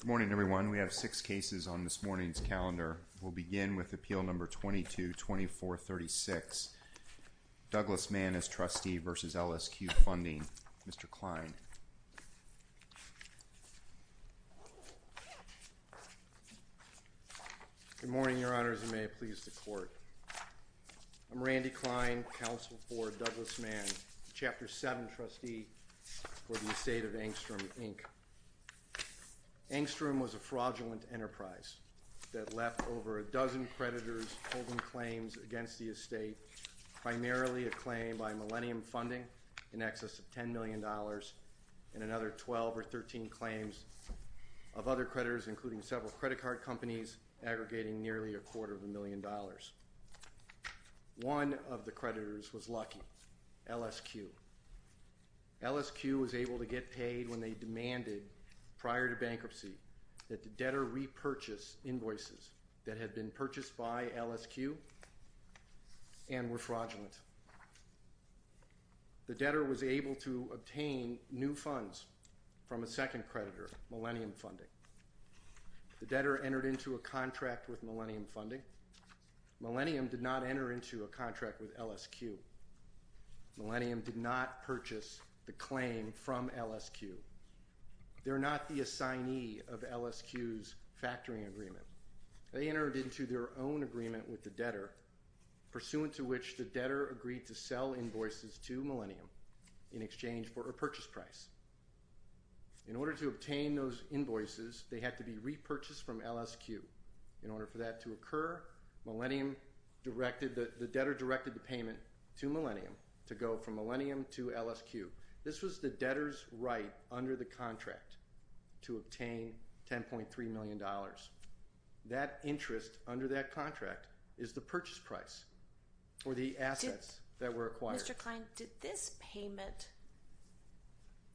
Good morning, everyone. We have six cases on this morning's calendar. We'll begin with Appeal No. 22-2436, Douglas Mann v. LSQ Funding. Mr. Kline. Good morning, Your Honors, and may it please the Court. I'm Randy Kline, Counsel for Douglas Mann, Chapter 7 Trustee for the Estate of Angstrom, Inc. Angstrom was a fraudulent enterprise that left over a dozen creditors holding claims against the estate, primarily a claim by Millennium Funding in excess of $10 million and another 12 or 13 claims of other creditors, including several credit card companies, aggregating nearly a quarter of a million dollars. One of the creditors was lucky, LSQ. LSQ was able to get paid when they demanded, prior to bankruptcy, that the debtor repurchase invoices that had been purchased by LSQ and were fraudulent. The debtor was able to obtain new funds from a second creditor, Millennium Funding. The debtor entered into a contract with Millennium Funding. Millennium did not enter into a contract with LSQ. Millennium did not purchase the claim from LSQ. They're not the assignee of LSQ's factoring agreement. They entered into their own agreement with the debtor, pursuant to which the debtor agreed to sell invoices to Millennium in exchange for a purchase price. In order to obtain those invoices, they had to be repurchased from LSQ. In order for that to occur, the debtor directed the payment to Millennium to go from Millennium to LSQ. This was the debtor's right under the contract to obtain $10.3 million. That interest under that contract is the purchase price, or the assets that were acquired. Mr. Klein, did this payment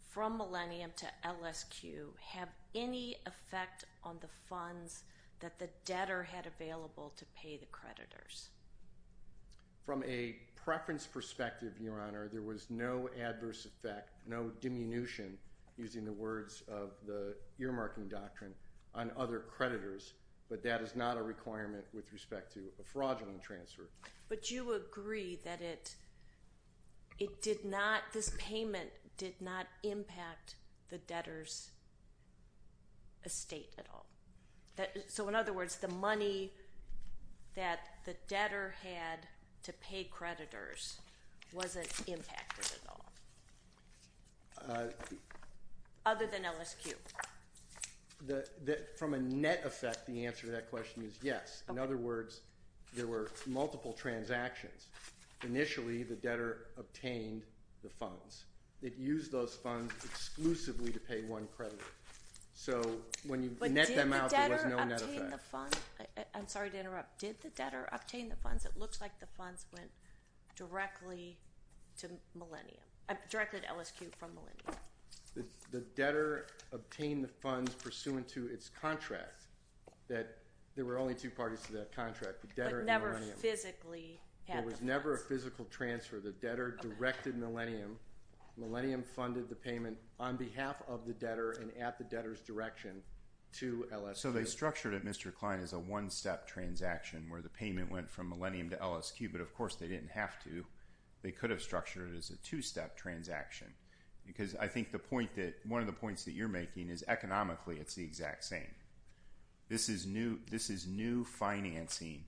from Millennium to LSQ have any effect on the funds that the debtor had available to pay the creditors? From a preference perspective, Your Honor, there was no adverse effect, no diminution, using the words of the earmarking doctrine, on other creditors, but that is not a requirement with respect to a fraudulent transfer. But you agree that this payment did not impact the debtor's estate at all? So, in other words, the money that the debtor had to pay creditors wasn't impacted at all? Other than LSQ? From a net effect, the answer to that question is yes. In other words, there were multiple transactions. Initially, the debtor obtained the funds. It used those funds exclusively to pay one creditor. So, when you net them out, there was no net effect. I'm sorry to interrupt. Did the debtor obtain the funds? It looks like the funds went directly to LSQ from Millennium. The debtor obtained the funds pursuant to its contract. There were only two parties to that contract, the debtor and Millennium. But never physically? There was never a physical transfer. The debtor directed Millennium. Millennium funded the payment on behalf of the debtor and at the debtor's direction to LSQ. One of the points that you're making is economically, it's the exact same. This is new financing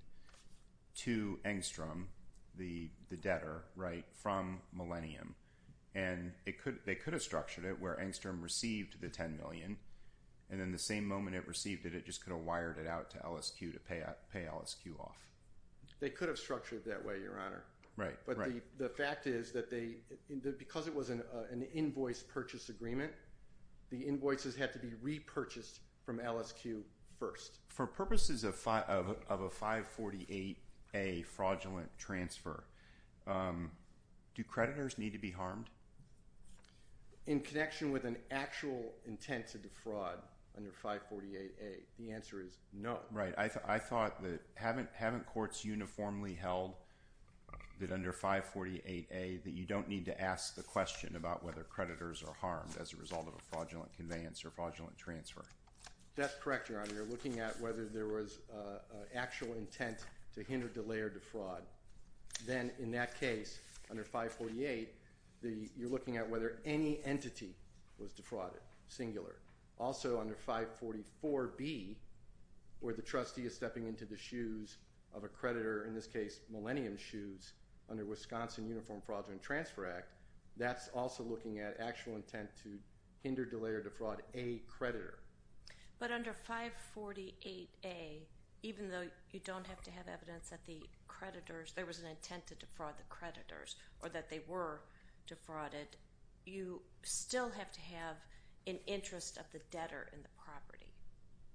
to Engstrom, the debtor, from Millennium. They could have structured it where Engstrom received the $10 million, and then the same moment it received it, it just could have wired it out to LSQ to pay LSQ off. They could have structured it that way, Your Honor. But the fact is that because it was an invoice purchase agreement, the invoices had to be repurchased from LSQ first. For purposes of a 548A fraudulent transfer, do creditors need to be harmed? In connection with an actual intent to defraud under 548A, the answer is no. Right. I thought that haven't courts uniformly held that under 548A that you don't need to ask the question about whether creditors are harmed as a result of a fraudulent conveyance or fraudulent transfer? That's correct, Your Honor. You're looking at whether there was actual intent to hinder, delay, or defraud. Then in that case, under 548, you're looking at whether any entity was defrauded, singular. Also, under 544B, where the trustee is stepping into the shoes of a creditor, in this case, Millennium Shoes, under Wisconsin Uniform Fraudulent Transfer Act, that's also looking at actual intent to hinder, delay, or defraud a creditor. But under 548A, even though you don't have to have evidence that there was an intent to defraud the creditors or that they were defrauded, you still have to have an interest of the debtor in the property.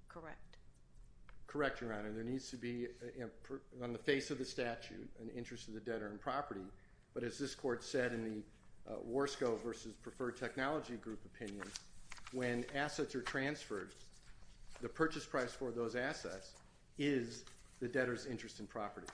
Correct? Correct, Your Honor. There needs to be, on the face of the statute, an interest of the debtor in property. But as this Court said in the Warsco versus Preferred Technology Group opinion, when assets are transferred, the purchase price for those assets is the debtor's interest in property.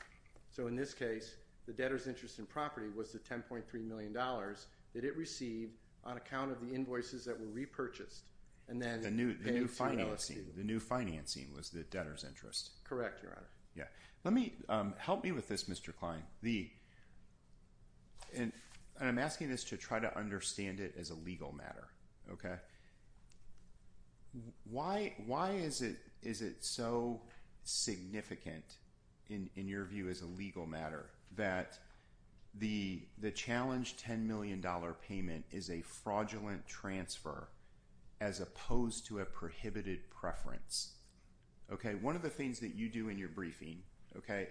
So in this case, the debtor's interest in property was the $10.3 million that it received on account of the invoices that were repurchased. The new financing was the debtor's interest. Correct, Your Honor. Help me with this, Mr. Klein. I'm asking this to try to understand it as a legal matter. Why is it so significant, in your view, as a legal matter, that the challenged $10 million payment is a fraudulent transfer as opposed to a prohibited preference? One of the things that you do in your briefing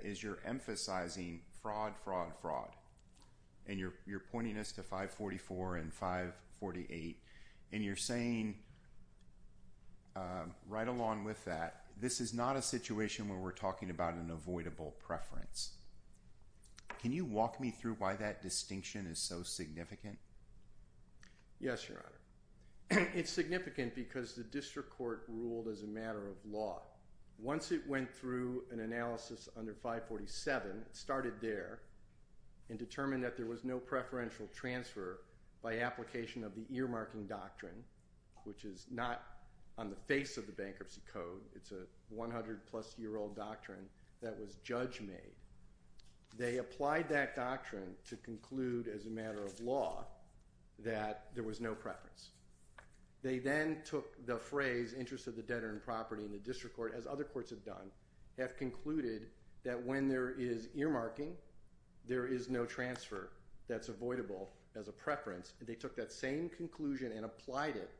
is you're emphasizing fraud, fraud, fraud. And you're pointing us to 544 and 548. And you're saying, right along with that, this is not a situation where we're talking about an avoidable preference. Can you walk me through why that distinction is so significant? Yes, Your Honor. It's significant because the district court ruled as a matter of law. Once it went through an analysis under 547, it started there and determined that there was no preferential transfer by application of the earmarking doctrine, which is not on the face of the Bankruptcy Code. It's a 100-plus-year-old doctrine that was judge-made. They applied that doctrine to conclude, as a matter of law, that there was no preference. They then took the phrase, interest of the debtor in property, and the district court, as other courts have done, have concluded that when there is earmarking, there is no transfer that's avoidable as a preference. And they took that same conclusion and applied it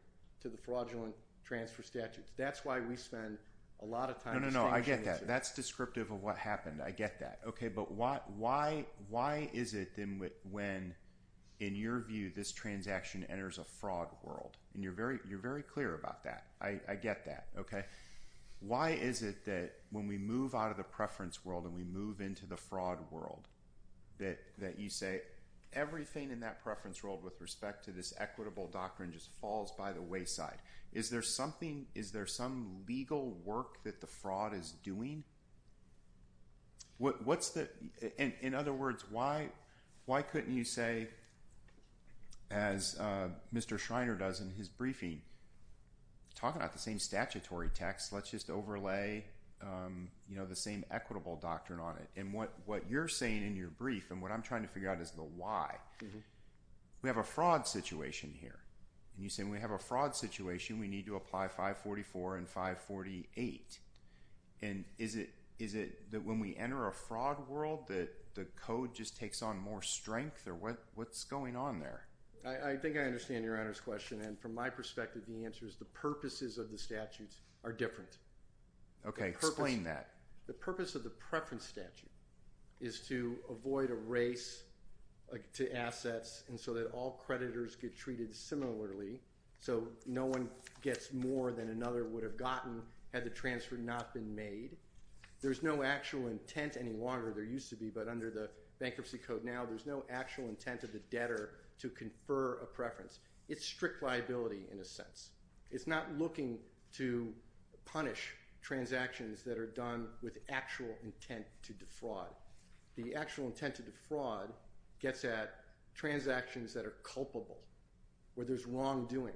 to the fraudulent transfer statute. That's why we spend a lot of time distinguishing. That's descriptive of what happened. I get that. But why is it then when, in your view, this transaction enters a fraud world? You're very clear about that. I get that. Why is it that when we move out of the preference world and we move into the fraud world, that you say, everything in that preference world with respect to this equitable doctrine just falls by the wayside? Is there some legal work that the fraud is doing? In other words, why couldn't you say, as Mr. Schreiner does in his briefing, talking about the same statutory text, let's just overlay the same equitable doctrine on it? And what you're saying in your brief and what I'm trying to figure out is the why. We have a fraud situation here. And you say, when we have a fraud situation, we need to apply 544 and 548. And is it that when we enter a fraud world that the code just takes on more strength? Or what's going on there? I think I understand Your Honor's question. And from my perspective, the answer is the purposes of the statutes are different. Okay, explain that. The purpose of the preference statute is to avoid a race to assets and so that all creditors get treated similarly. So no one gets more than another would have gotten had the transfer not been made. There's no actual intent any longer. There used to be, but under the bankruptcy code now, there's no actual intent of the debtor to confer a preference. It's strict liability in a sense. It's not looking to punish transactions that are done with actual intent to defraud. The actual intent to defraud gets at transactions that are culpable where there's wrongdoing.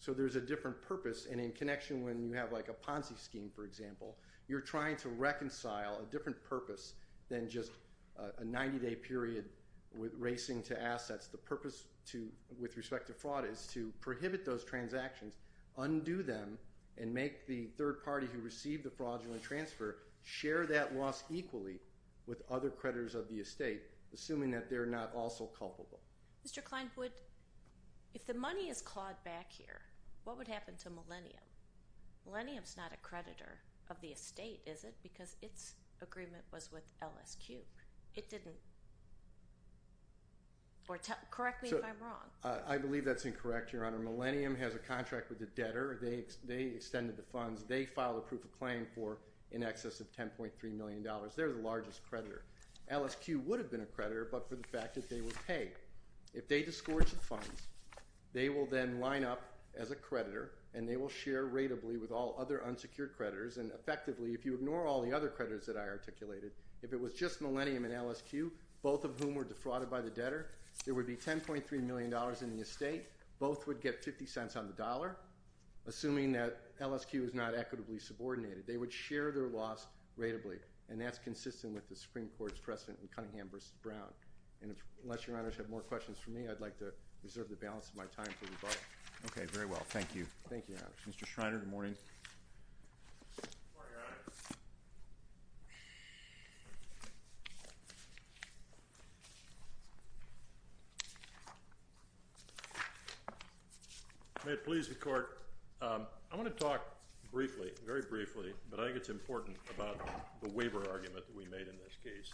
So there's a different purpose, and in connection when you have like a Ponzi scheme, for example, you're trying to reconcile a different purpose than just a 90-day period with racing to assets. The purpose with respect to fraud is to prohibit those transactions, undo them, and make the third party who received the fraudulent transfer share that loss equally with other creditors of the estate, assuming that they're not also culpable. Mr. Klein, if the money is clawed back here, what would happen to Millennium? Millennium's not a creditor of the estate, is it? Because its agreement was with LSQ. It didn't. Correct me if I'm wrong. I believe that's incorrect, Your Honor. Millennium has a contract with the debtor. They extended the funds. They filed a proof of claim for in excess of $10.3 million. They're the largest creditor. LSQ would have been a creditor but for the fact that they would pay. If they disgorge the funds, they will then line up as a creditor, and they will share rateably with all other unsecured creditors, and effectively, if you ignore all the other creditors that I articulated, if it was just Millennium and LSQ, both of whom were defrauded by the debtor, there would be $10.3 million in the estate. Both would get 50 cents on the dollar, assuming that LSQ is not equitably subordinated. They would share their loss rateably, and that's consistent with the Supreme Court's precedent in Cunningham v. Brown. And unless Your Honors have more questions for me, I'd like to reserve the balance of my time for rebuttal. Thank you. Thank you, Your Honors. Mr. Schreiner, good morning. Good morning, Your Honor. May it please the Court, I want to talk briefly, very briefly, but I think it's important, about the waiver argument that we made in this case.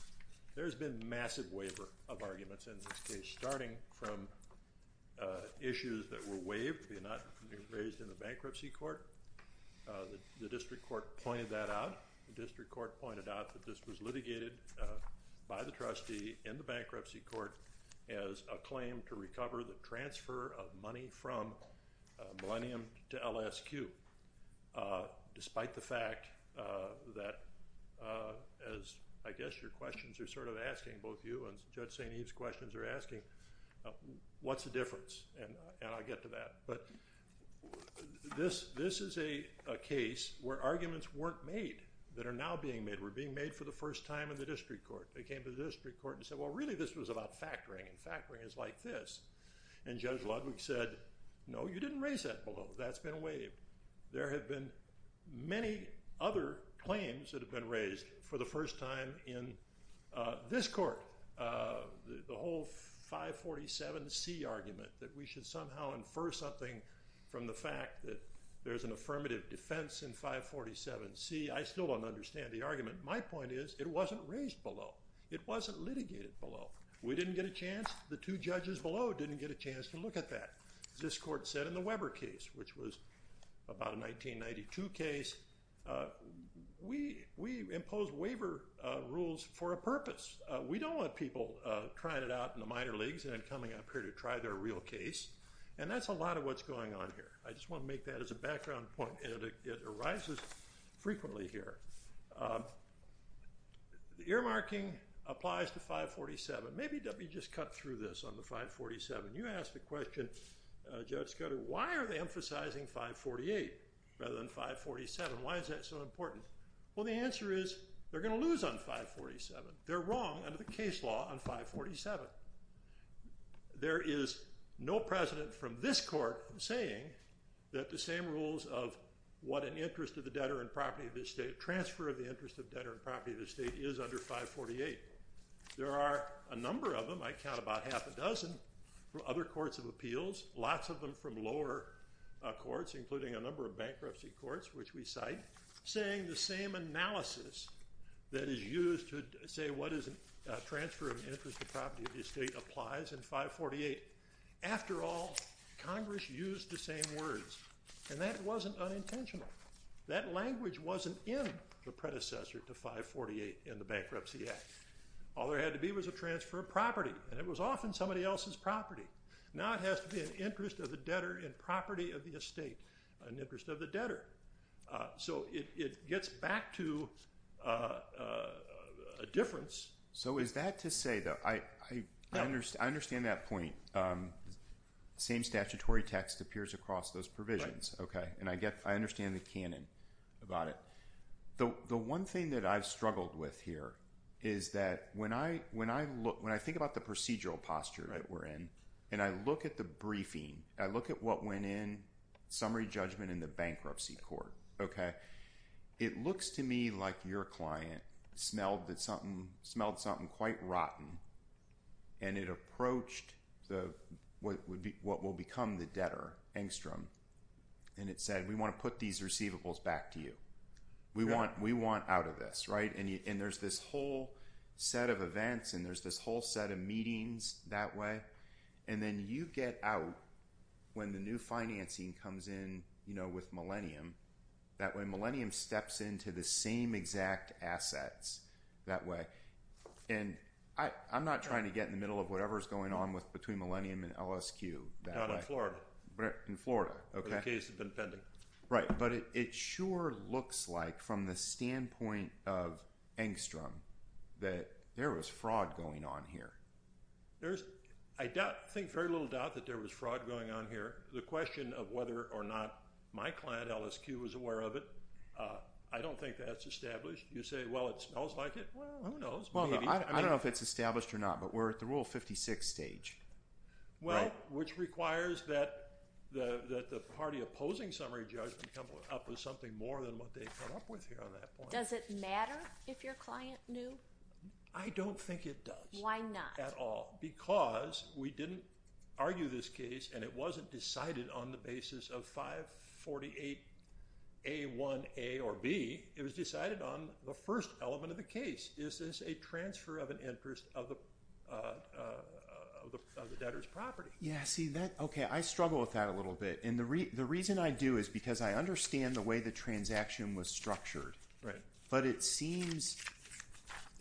There's been massive waiver of arguments in this case, starting from issues that were waived, they're not raised in the bankruptcy court. The district court pointed that out. The district court pointed out that this was litigated by the trustee in the bankruptcy court as a claim to recover the transfer of money from Millennium to LSQ. Despite the fact that, as I guess your questions are sort of asking, both you and Judge St. Eve's questions are asking, what's the difference? And I'll get to that. But this is a case where arguments weren't made that are now being made, were being made for the first time in the district court. They came to the district court and said, well, really this was about factoring, and factoring is like this. And Judge Ludwig said, no, you didn't raise that below, that's been waived. There have been many other claims that have been raised for the first time in this court. The whole 547C argument, that we should somehow infer something from the fact that there's an affirmative defense in 547C, I still don't understand the argument. My point is, it wasn't raised below. It wasn't litigated below. We didn't get a chance, the two judges below didn't get a chance to look at that. This court said in the Weber case, which was about a 1992 case, we impose waiver rules for a purpose. We don't want people trying it out in the minor leagues and coming up here to try their real case. And that's a lot of what's going on here. I just want to make that as a background point. It arises frequently here. The earmarking applies to 547. Maybe let me just cut through this on the 547. You asked the question, Judge Scudder, why are they emphasizing 548 rather than 547? Why is that so important? Well, the answer is, they're going to lose on 547. They're wrong under the case law on 547. There is no president from this court saying that the same rules of what an interest of the debtor and property of the state, transfer of the interest of debtor and property of the state, is under 548. There are a number of them. I count about half a dozen from other courts of appeals, lots of them from lower courts, including a number of bankruptcy courts, which we cite, saying the same analysis that is used to say what is a transfer of interest of property of the state applies in 548. After all, Congress used the same words. And that wasn't unintentional. That language wasn't in the predecessor to 548 in the Bankruptcy Act. All there had to be was a transfer of property, and it was often somebody else's property. Now it has to be an interest of the debtor and property of the estate, an interest of the debtor. So it gets back to a difference. So is that to say, though, I understand that point. The same statutory text appears across those provisions. I understand the canon about it. The one thing that I've struggled with here is that when I think about the procedural posture that we're in, and I look at the briefing, I look at what went in, summary judgment in the bankruptcy court. It looks to me like your client smelled something quite rotten, and it approached what will become the debtor, Engstrom. And it said, we want to put these receivables back to you. We want out of this. And there's this whole set of events, and there's this whole set of meetings that way. And then you get out when the new financing comes in with Millennium. That way, Millennium steps into the same exact assets that way. And I'm not trying to get in the middle of whatever's going on between Millennium and LSQ that way. Not in Florida. In Florida. Where the case had been pending. Right. But it sure looks like, from the standpoint of Engstrom, that there was fraud going on here. I think very little doubt that there was fraud going on here. The question of whether or not my client, LSQ, was aware of it, I don't think that's established. You say, well, it smells like it. Well, who knows? I don't know if it's established or not, but we're at the Rule 56 stage. Well, which requires that the party opposing summary judgment come up with something more than what they came up with here on that point. Does it matter if your client knew? I don't think it does. Why not? At all. Because we didn't argue this case, and it wasn't decided on the basis of 548A1A or B. It was decided on the first element of the case. Is this a transfer of an interest of the debtor's property? Yeah, see, I struggle with that a little bit. And the reason I do is because I understand the way the transaction was structured. Right. But it seems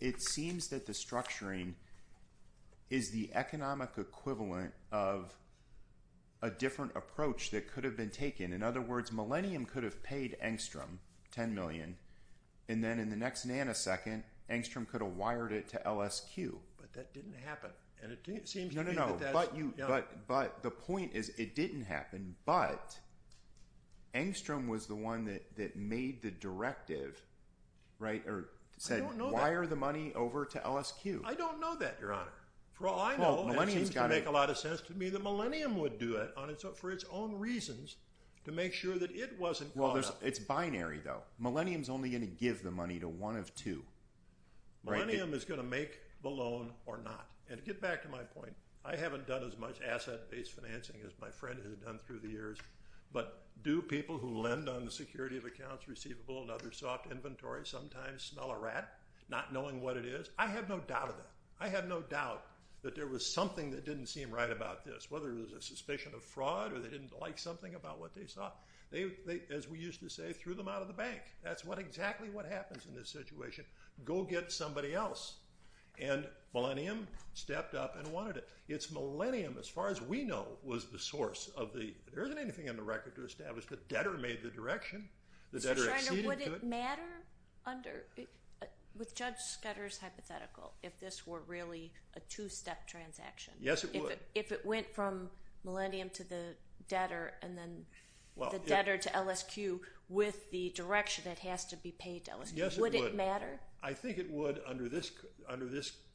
that the structuring is the economic equivalent of a different approach that could have been taken. In other words, Millennium could have paid Engstrom $10 million, and then in the next nanosecond, Engstrom could have wired it to LSQ. But that didn't happen. No, no, no. But the point is it didn't happen, but Engstrom was the one that made the directive, right, or said wire the money over to LSQ. I don't know that, Your Honor. For all I know, it seems to make a lot of sense to me that Millennium would do it for its own reasons to make sure that it wasn't caught up. Well, it's binary, though. Millennium's only going to give the money to one of two. Millennium is going to make the loan or not. And to get back to my point, I haven't done as much asset-based financing as my friend has done through the years. But do people who lend on the security of accounts receivable and other soft inventory sometimes smell a rat not knowing what it is? I have no doubt of that. I have no doubt that there was something that didn't seem right about this, whether it was a suspicion of fraud or they didn't like something about what they saw. They, as we used to say, threw them out of the bank. That's exactly what happens in this situation. Go get somebody else. And Millennium stepped up and wanted it. It's Millennium, as far as we know, was the source of the – there isn't anything on the record to establish that debtor made the direction. The debtor acceded to it. So, Your Honor, would it matter under – with Judge Scudder's hypothetical if this were really a two-step transaction? Yes, it would. If it went from Millennium to the debtor and then the debtor to LSQ with the direction it has to be paid to LSQ, would it matter? I think it would under this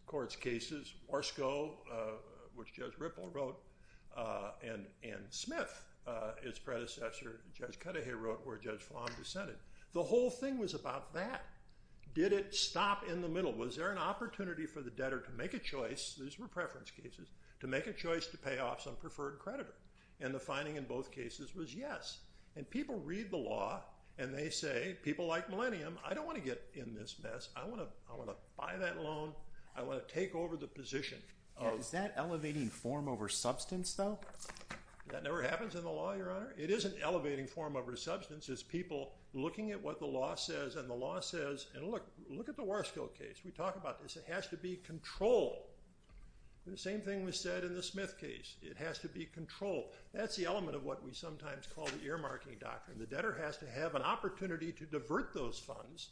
court's cases. Orsco, which Judge Ripple wrote, and Smith, its predecessor, Judge Cuddehay wrote, where Judge Fong dissented. The whole thing was about that. Did it stop in the middle? Was there an opportunity for the debtor to make a choice – these were preference cases – to make a choice to pay off some preferred creditor? And the finding in both cases was yes. And people read the law, and they say, people like Millennium, I don't want to get in this mess. I want to buy that loan. I want to take over the position. Is that elevating form over substance, though? That never happens in the law, Your Honor. It isn't elevating form over substance. It's people looking at what the law says, and the law says – and look at the Orsco case. We talk about this. It has to be controlled. The same thing was said in the Smith case. It has to be controlled. That's the element of what we sometimes call the earmarking doctrine. The debtor has to have an opportunity to divert those funds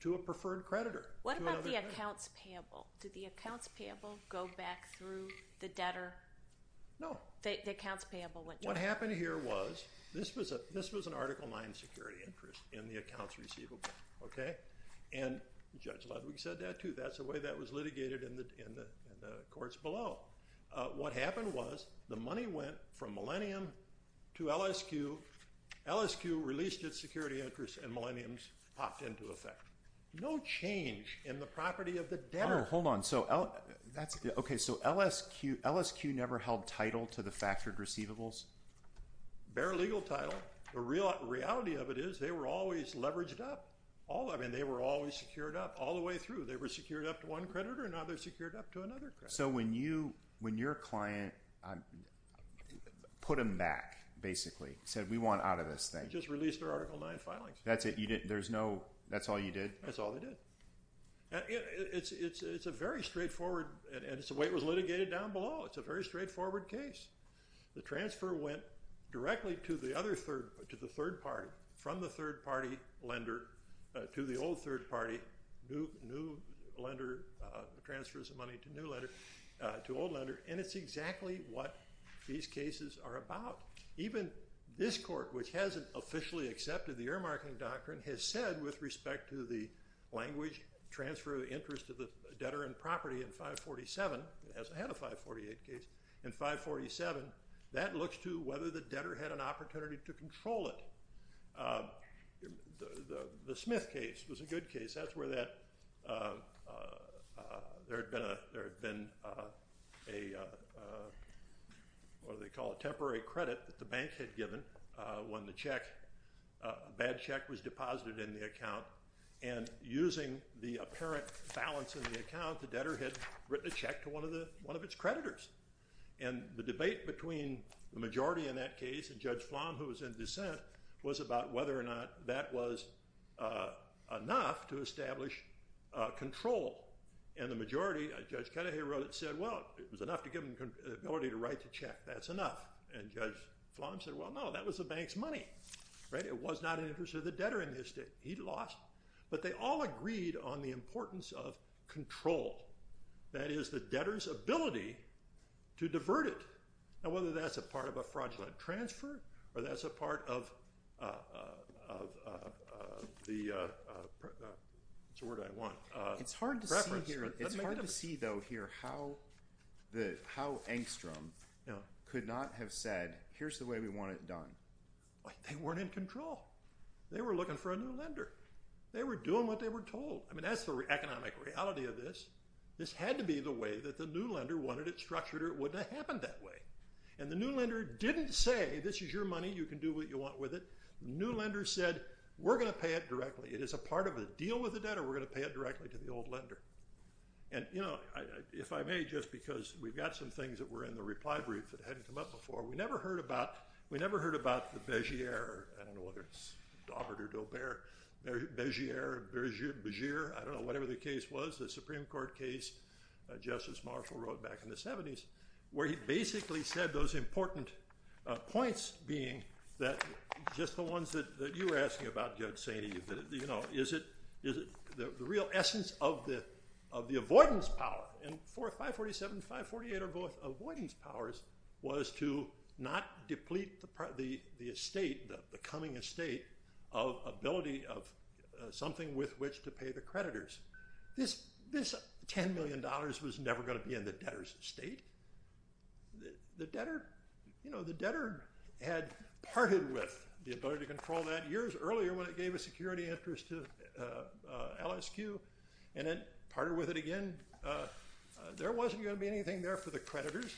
to a preferred creditor. What about the accounts payable? Did the accounts payable go back through the debtor? No. The accounts payable went to him. What happened here was this was an Article IX security interest in the accounts receivable, okay? And Judge Ludwig said that, too. That's the way that was litigated in the courts below. What happened was the money went from Millennium to LSQ. LSQ released its security interest, and Millennium's popped into effect. No change in the property of the debtor. Oh, hold on. Okay, so LSQ never held title to the factored receivables? Bare legal title. The reality of it is they were always leveraged up. I mean, they were always secured up all the way through. They were secured up to one creditor, and now they're secured up to another creditor. So when your client put them back, basically, said, we want out of this thing. They just released their Article IX filings. That's it? That's all you did? That's all they did. It's a very straightforward, and it's the way it was litigated down below. It's a very straightforward case. The transfer went directly to the third party, from the third party lender to the old third party, new lender transfers the money to old lender, and it's exactly what these cases are about. Even this court, which hasn't officially accepted the earmarking doctrine, has said with respect to the language transfer of interest to the debtor and property in 547, it hasn't had a 548 case, in 547, that looks to whether the debtor had an opportunity to control it. The Smith case was a good case. That's where there had been a, what do they call it, temporary credit that the bank had given when the check, a bad check was deposited in the account, and using the apparent balance in the account, the debtor had written a check to one of its creditors. And the debate between the majority in that case and Judge Flom, who was in dissent, was about whether or not that was enough to establish control. And the majority, Judge Kennedy wrote it, said, well, it was enough to give him the ability to write the check. That's enough. And Judge Flom said, well, no, that was the bank's money. It was not in the interest of the debtor in this case. He lost. But they all agreed on the importance of control. That is, the debtor's ability to divert it. Now, whether that's a part of a fraudulent transfer, or that's a part of the, what's the word I want, preference. It's hard to see, though, here, how Engstrom could not have said, here's the way we want it done. They weren't in control. They were looking for a new lender. They were doing what they were told. I mean, that's the economic reality of this. This had to be the way that the new lender wanted it structured, or it wouldn't have happened that way. And the new lender didn't say, this is your money. You can do what you want with it. The new lender said, we're going to pay it directly. It is a part of a deal with the debtor. We're going to pay it directly to the old lender. And, you know, if I may, just because we've got some things that were in the reply brief that hadn't come up before. We never heard about the Begier. I don't know whether it's Daubert or Daubert. Begier, I don't know, whatever the case was, the Supreme Court case Justice Marshall wrote back in the 70s, where he basically said those important points being that just the ones that you were asking about, Judge Saini, you know, is it the real essence of the avoidance power. And 547 and 548 are both avoidance powers, was to not deplete the estate, the coming estate, of ability of something with which to pay the creditors. This $10 million was never going to be in the debtor's estate. The debtor, you know, the debtor had parted with the ability to control that years earlier when it gave a security interest to LSQ. And then parted with it again. There wasn't going to be anything there for the creditors.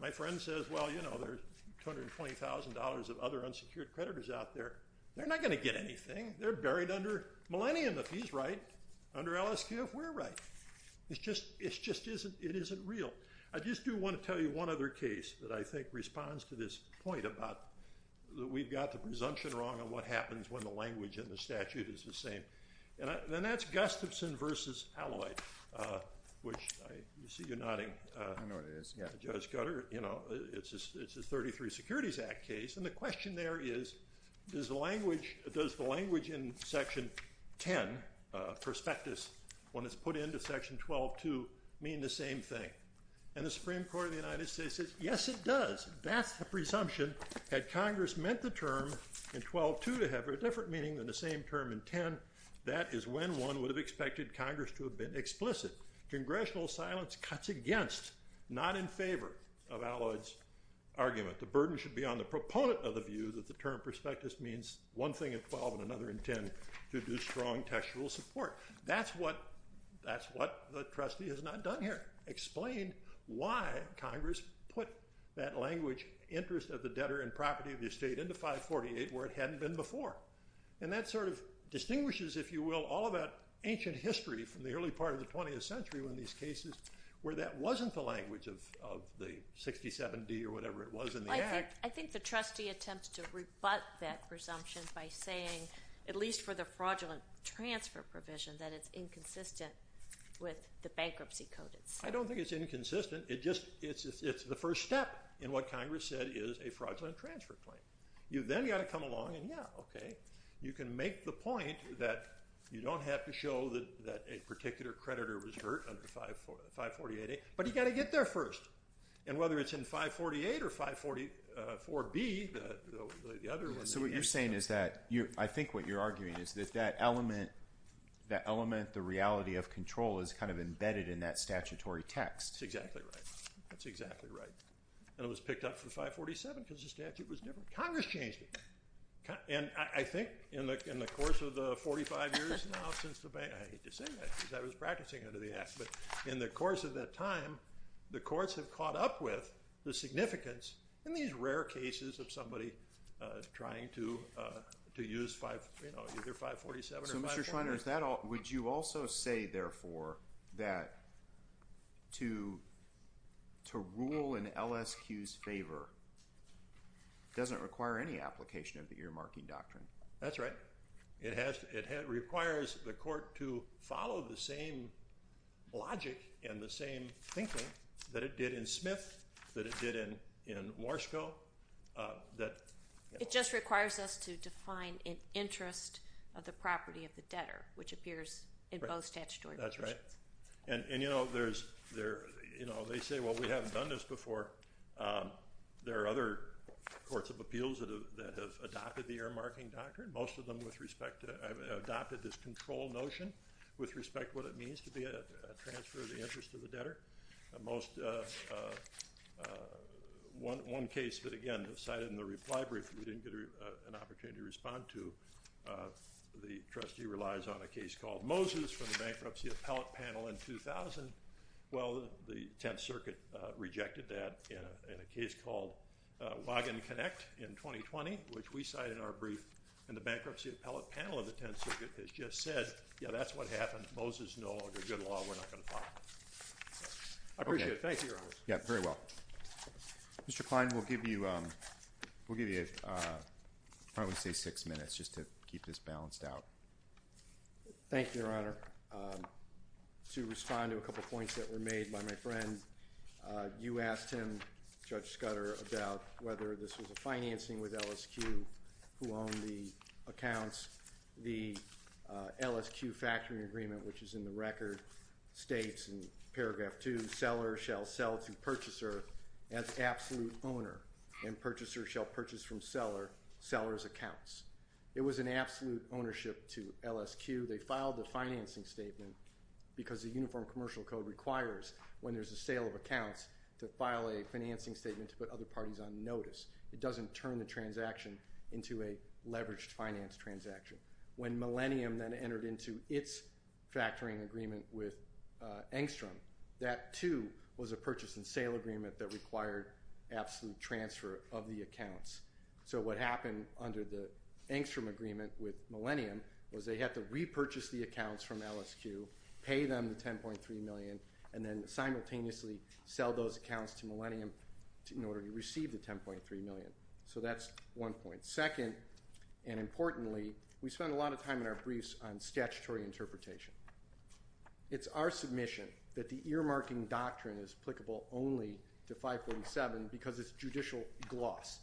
My friend says, well, you know, there's $220,000 of other unsecured creditors out there. They're not going to get anything. They're buried under Millennium if he's right, under LSQ if we're right. It just isn't real. I just do want to tell you one other case that I think responds to this point about we've got the presumption wrong on what happens when the language in the statute is the same. And that's Gustafson v. Alloyd, which I see you nodding, Judge Gutter. You know, it's a 33 Securities Act case. And the question there is, does the language in Section 10, prospectus, when it's put into Section 12.2 mean the same thing? And the Supreme Court of the United States says, yes, it does. That's the presumption. Had Congress meant the term in 12.2 to have a different meaning than the same term in 10, that is when one would have expected Congress to have been explicit. Congressional silence cuts against, not in favor, of Alloyd's argument. The burden should be on the proponent of the view that the term prospectus means one thing in 12 and another in 10, to do strong textual support. That's what the trustee has not done here. Explain why Congress put that language, interest of the debtor and property of the estate, into 548 where it hadn't been before. And that sort of distinguishes, if you will, all of that ancient history from the early part of the 20th century when these cases where that wasn't the language of the 67D or whatever it was in the Act. I think the trustee attempts to rebut that presumption by saying, at least for the fraudulent transfer provision, that it's inconsistent with the bankruptcy codes. I don't think it's inconsistent. It's the first step in what Congress said is a fraudulent transfer claim. You then got to come along and yeah, okay, you can make the point that you don't have to show that a particular creditor was hurt under 548A, but you got to get there first. And whether it's in 548 or 544B, the other one. So what you're saying is that I think what you're arguing is that that element, the reality of control is kind of embedded in that statutory text. That's exactly right. And it was picked up for 547 because the statute was different. Congress changed it. And I think in the course of the 45 years now since the bank, I hate to say that because I was practicing under the Act, but in the course of that time, the courts have caught up with the significance in these rare cases of somebody trying to use either 547 or 544. So, Mr. Schweiner, would you also say, therefore, that to rule in LSQ's favor doesn't require any application of the earmarking doctrine? That's right. It requires the court to follow the same logic and the same thinking that it did in Smith, that it did in Morskow. It just requires us to define an interest of the property of the debtor, which appears in both statutory positions. That's right. And, you know, they say, well, we haven't done this before. There are other courts of appeals that have adopted the earmarking doctrine. Most of them, with respect to it, have adopted this control notion with respect to what it means to be a transfer of the interest of the debtor. One case that, again, was cited in the reply brief that we didn't get an opportunity to respond to, the trustee relies on a case called Moses from the bankruptcy appellate panel in 2000. Well, the Tenth Circuit rejected that in a case called Wagon Connect in 2020, which we cite in our brief. And the bankruptcy appellate panel of the Tenth Circuit has just said, yeah, that's what happened. Moses is no longer good law. We're not going to file it. I appreciate it. Thank you, Your Honor. Yeah, very well. Mr. Kline, we'll give you probably, say, six minutes just to keep this balanced out. Thank you, Your Honor. To respond to a couple points that were made by my friend, you asked him, Judge Scudder, about whether this was a financing with LSQ who owned the accounts. The LSQ factoring agreement, which is in the record, states in paragraph two, seller shall sell to purchaser as absolute owner, and purchaser shall purchase from seller's accounts. It was an absolute ownership to LSQ. They filed the financing statement because the Uniform Commercial Code requires, when there's a sale of accounts, to file a financing statement to put other parties on notice. It doesn't turn the transaction into a leveraged finance transaction. When Millennium then entered into its factoring agreement with Engstrom, that, too, was a purchase and sale agreement that required absolute transfer of the accounts. So what happened under the Engstrom agreement with Millennium was they had to repurchase the accounts from LSQ, pay them the $10.3 million, and then simultaneously sell those accounts to Millennium in order to receive the $10.3 million. So that's one point. Second, and importantly, we spend a lot of time in our briefs on statutory interpretation. It's our submission that the earmarking doctrine is applicable only to 547 because it's judicial gloss.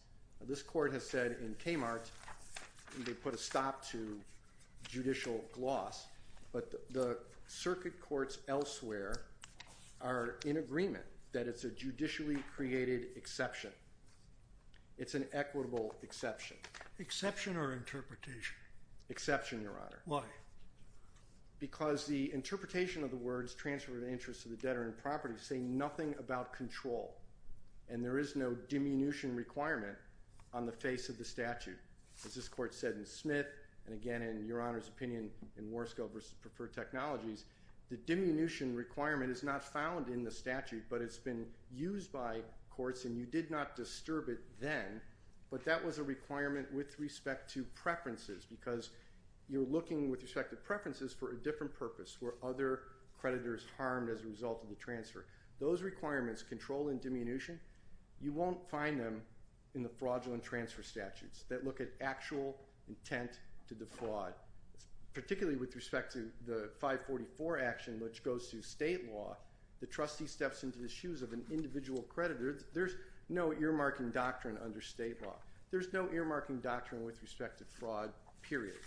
This court has said in Kmart they put a stop to judicial gloss, but the circuit courts elsewhere are in agreement that it's a judicially created exception. It's an equitable exception. Exception or interpretation? Exception, Your Honor. Why? Because the interpretation of the words transfer of interest to the debtor and property say nothing about control, and there is no diminution requirement on the face of the statute. As this court said in Smith and, again, in Your Honor's opinion in Warsko versus Preferred Technologies, the diminution requirement is not found in the statute, but it's been used by courts, and you did not disturb it then. But that was a requirement with respect to preferences because you're looking with respect to preferences for a different purpose where other creditors harmed as a result of the transfer. Those requirements, control and diminution, you won't find them in the fraudulent transfer statutes that look at actual intent to the fraud, particularly with respect to the 544 action, which goes to state law. The trustee steps into the shoes of an individual creditor. There's no earmarking doctrine under state law. There's no earmarking doctrine with respect to fraud, period.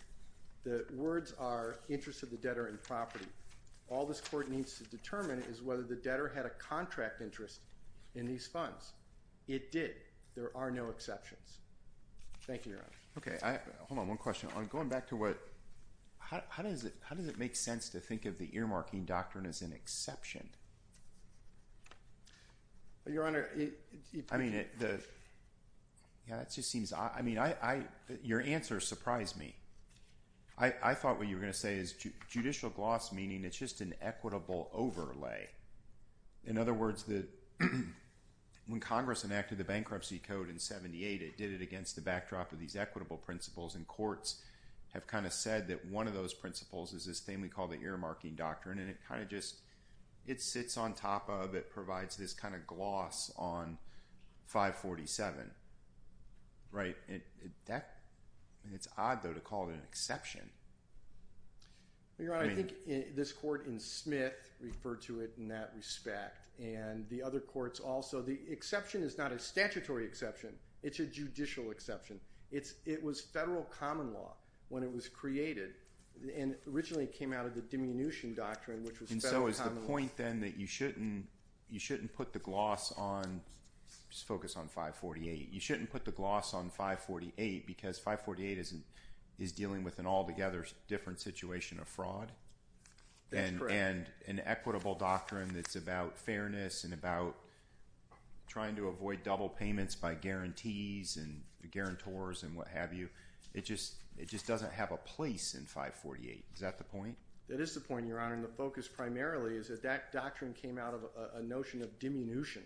The words are interest of the debtor and property. All this court needs to determine is whether the debtor had a contract interest in these funds. It did. There are no exceptions. Thank you, Your Honor. Okay. Hold on, one question. Going back to what – how does it make sense to think of the earmarking doctrine as an exception? Your Honor, I mean, that just seems – I mean, your answer surprised me. I thought what you were going to say is judicial gloss, meaning it's just an equitable overlay. In other words, when Congress enacted the Bankruptcy Code in 1978, it did it against the backdrop of these equitable principles, and courts have kind of said that one of those principles is this thing we call the earmarking doctrine. And it kind of just – it sits on top of – it provides this kind of gloss on 547. Right. It's odd, though, to call it an exception. Your Honor, I think this court in Smith referred to it in that respect, and the other courts also. The exception is not a statutory exception. It's a judicial exception. It was federal common law when it was created, and originally it came out of the diminution doctrine, which was federal common law. And so is the point then that you shouldn't put the gloss on – just focus on 548. You shouldn't put the gloss on 548 because 548 is dealing with an altogether different situation of fraud. That's correct. And an equitable doctrine that's about fairness and about trying to avoid double payments by guarantees and the guarantors and what have you. It just doesn't have a place in 548. Is that the point? That is the point, Your Honor, and the focus primarily is that that doctrine came out of a notion of diminution,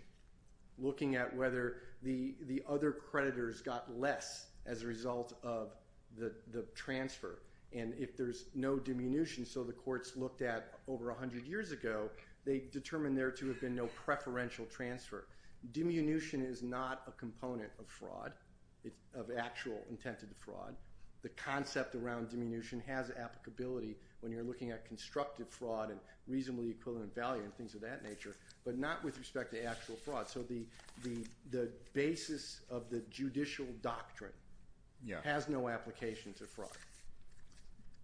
looking at whether the other creditors got less as a result of the transfer. And if there's no diminution, so the courts looked at over 100 years ago, they determined there to have been no preferential transfer. Diminution is not a component of fraud, of actual intent of the fraud. The concept around diminution has applicability when you're looking at constructive fraud and reasonably equivalent value and things of that nature, but not with respect to actual fraud. So the basis of the judicial doctrine has no application to fraud.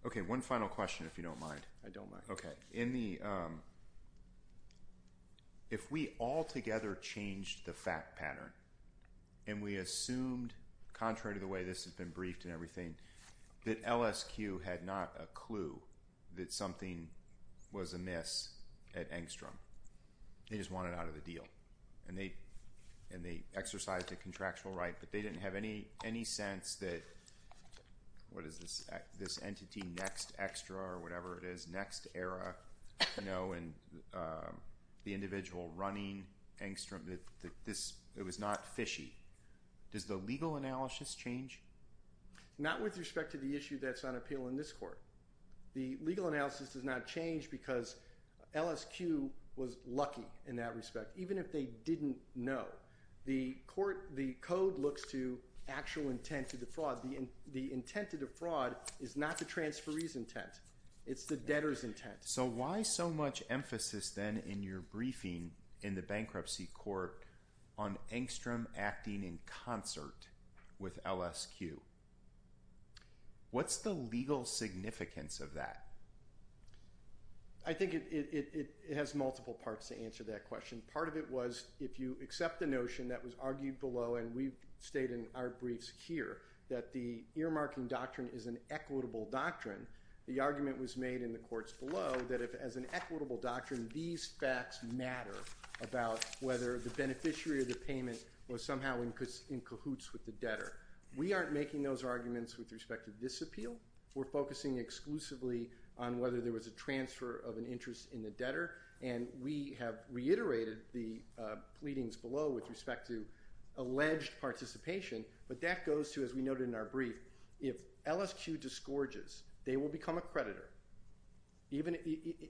Okay, one final question if you don't mind. I don't mind. If we all together changed the fact pattern and we assumed, contrary to the way this has been briefed and everything, that LSQ had not a clue that something was amiss at Engstrom. They just wanted out of the deal. And they exercised a contractual right, but they didn't have any sense that, what is this entity, Next Extra or whatever it is, Next Era, you know, and the individual running Engstrom, it was not fishy. Does the legal analysis change? Not with respect to the issue that's on appeal in this court. The legal analysis does not change because LSQ was lucky in that respect, even if they didn't know. The court, the code looks to actual intent of the fraud. The intent of the fraud is not the transferee's intent. It's the debtor's intent. So why so much emphasis then in your briefing in the bankruptcy court on Engstrom acting in concert with LSQ? What's the legal significance of that? I think it has multiple parts to answer that question. Part of it was, if you accept the notion that was argued below, and we state in our briefs here, that the earmarking doctrine is an equitable doctrine. The argument was made in the courts below that if, as an equitable doctrine, these facts matter about whether the beneficiary of the payment was somehow in cahoots with the debtor. We aren't making those arguments with respect to this appeal. We're focusing exclusively on whether there was a transfer of an interest in the debtor. And we have reiterated the pleadings below with respect to alleged participation. But that goes to, as we noted in our brief, if LSQ disgorges, they will become a creditor. Even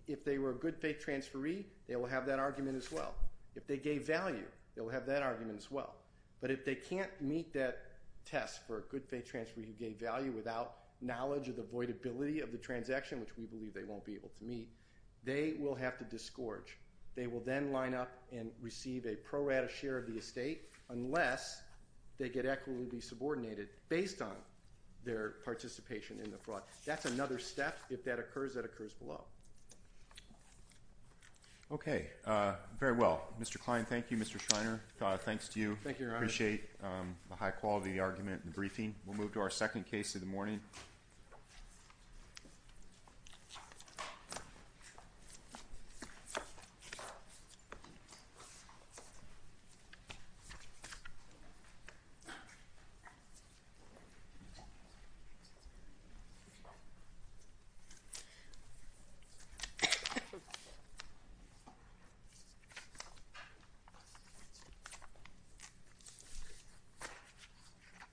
if they were a good faith transferee, they will have that argument as well. If they gave value, they will have that argument as well. But if they can't meet that test for a good faith transferee who gave value without knowledge of the voidability of the transaction, which we believe they won't be able to meet, they will have to disgorge. They will then line up and receive a pro rata share of the estate unless they get equitably subordinated based on their participation in the fraud. That's another step. If that occurs, that occurs below. Okay. Very well. Mr. Klein, thank you. Mr. Schreiner, thanks to you. Thank you, Your Honor. I appreciate the high quality of the argument and briefing. We'll move to our second case of the morning. Thank you.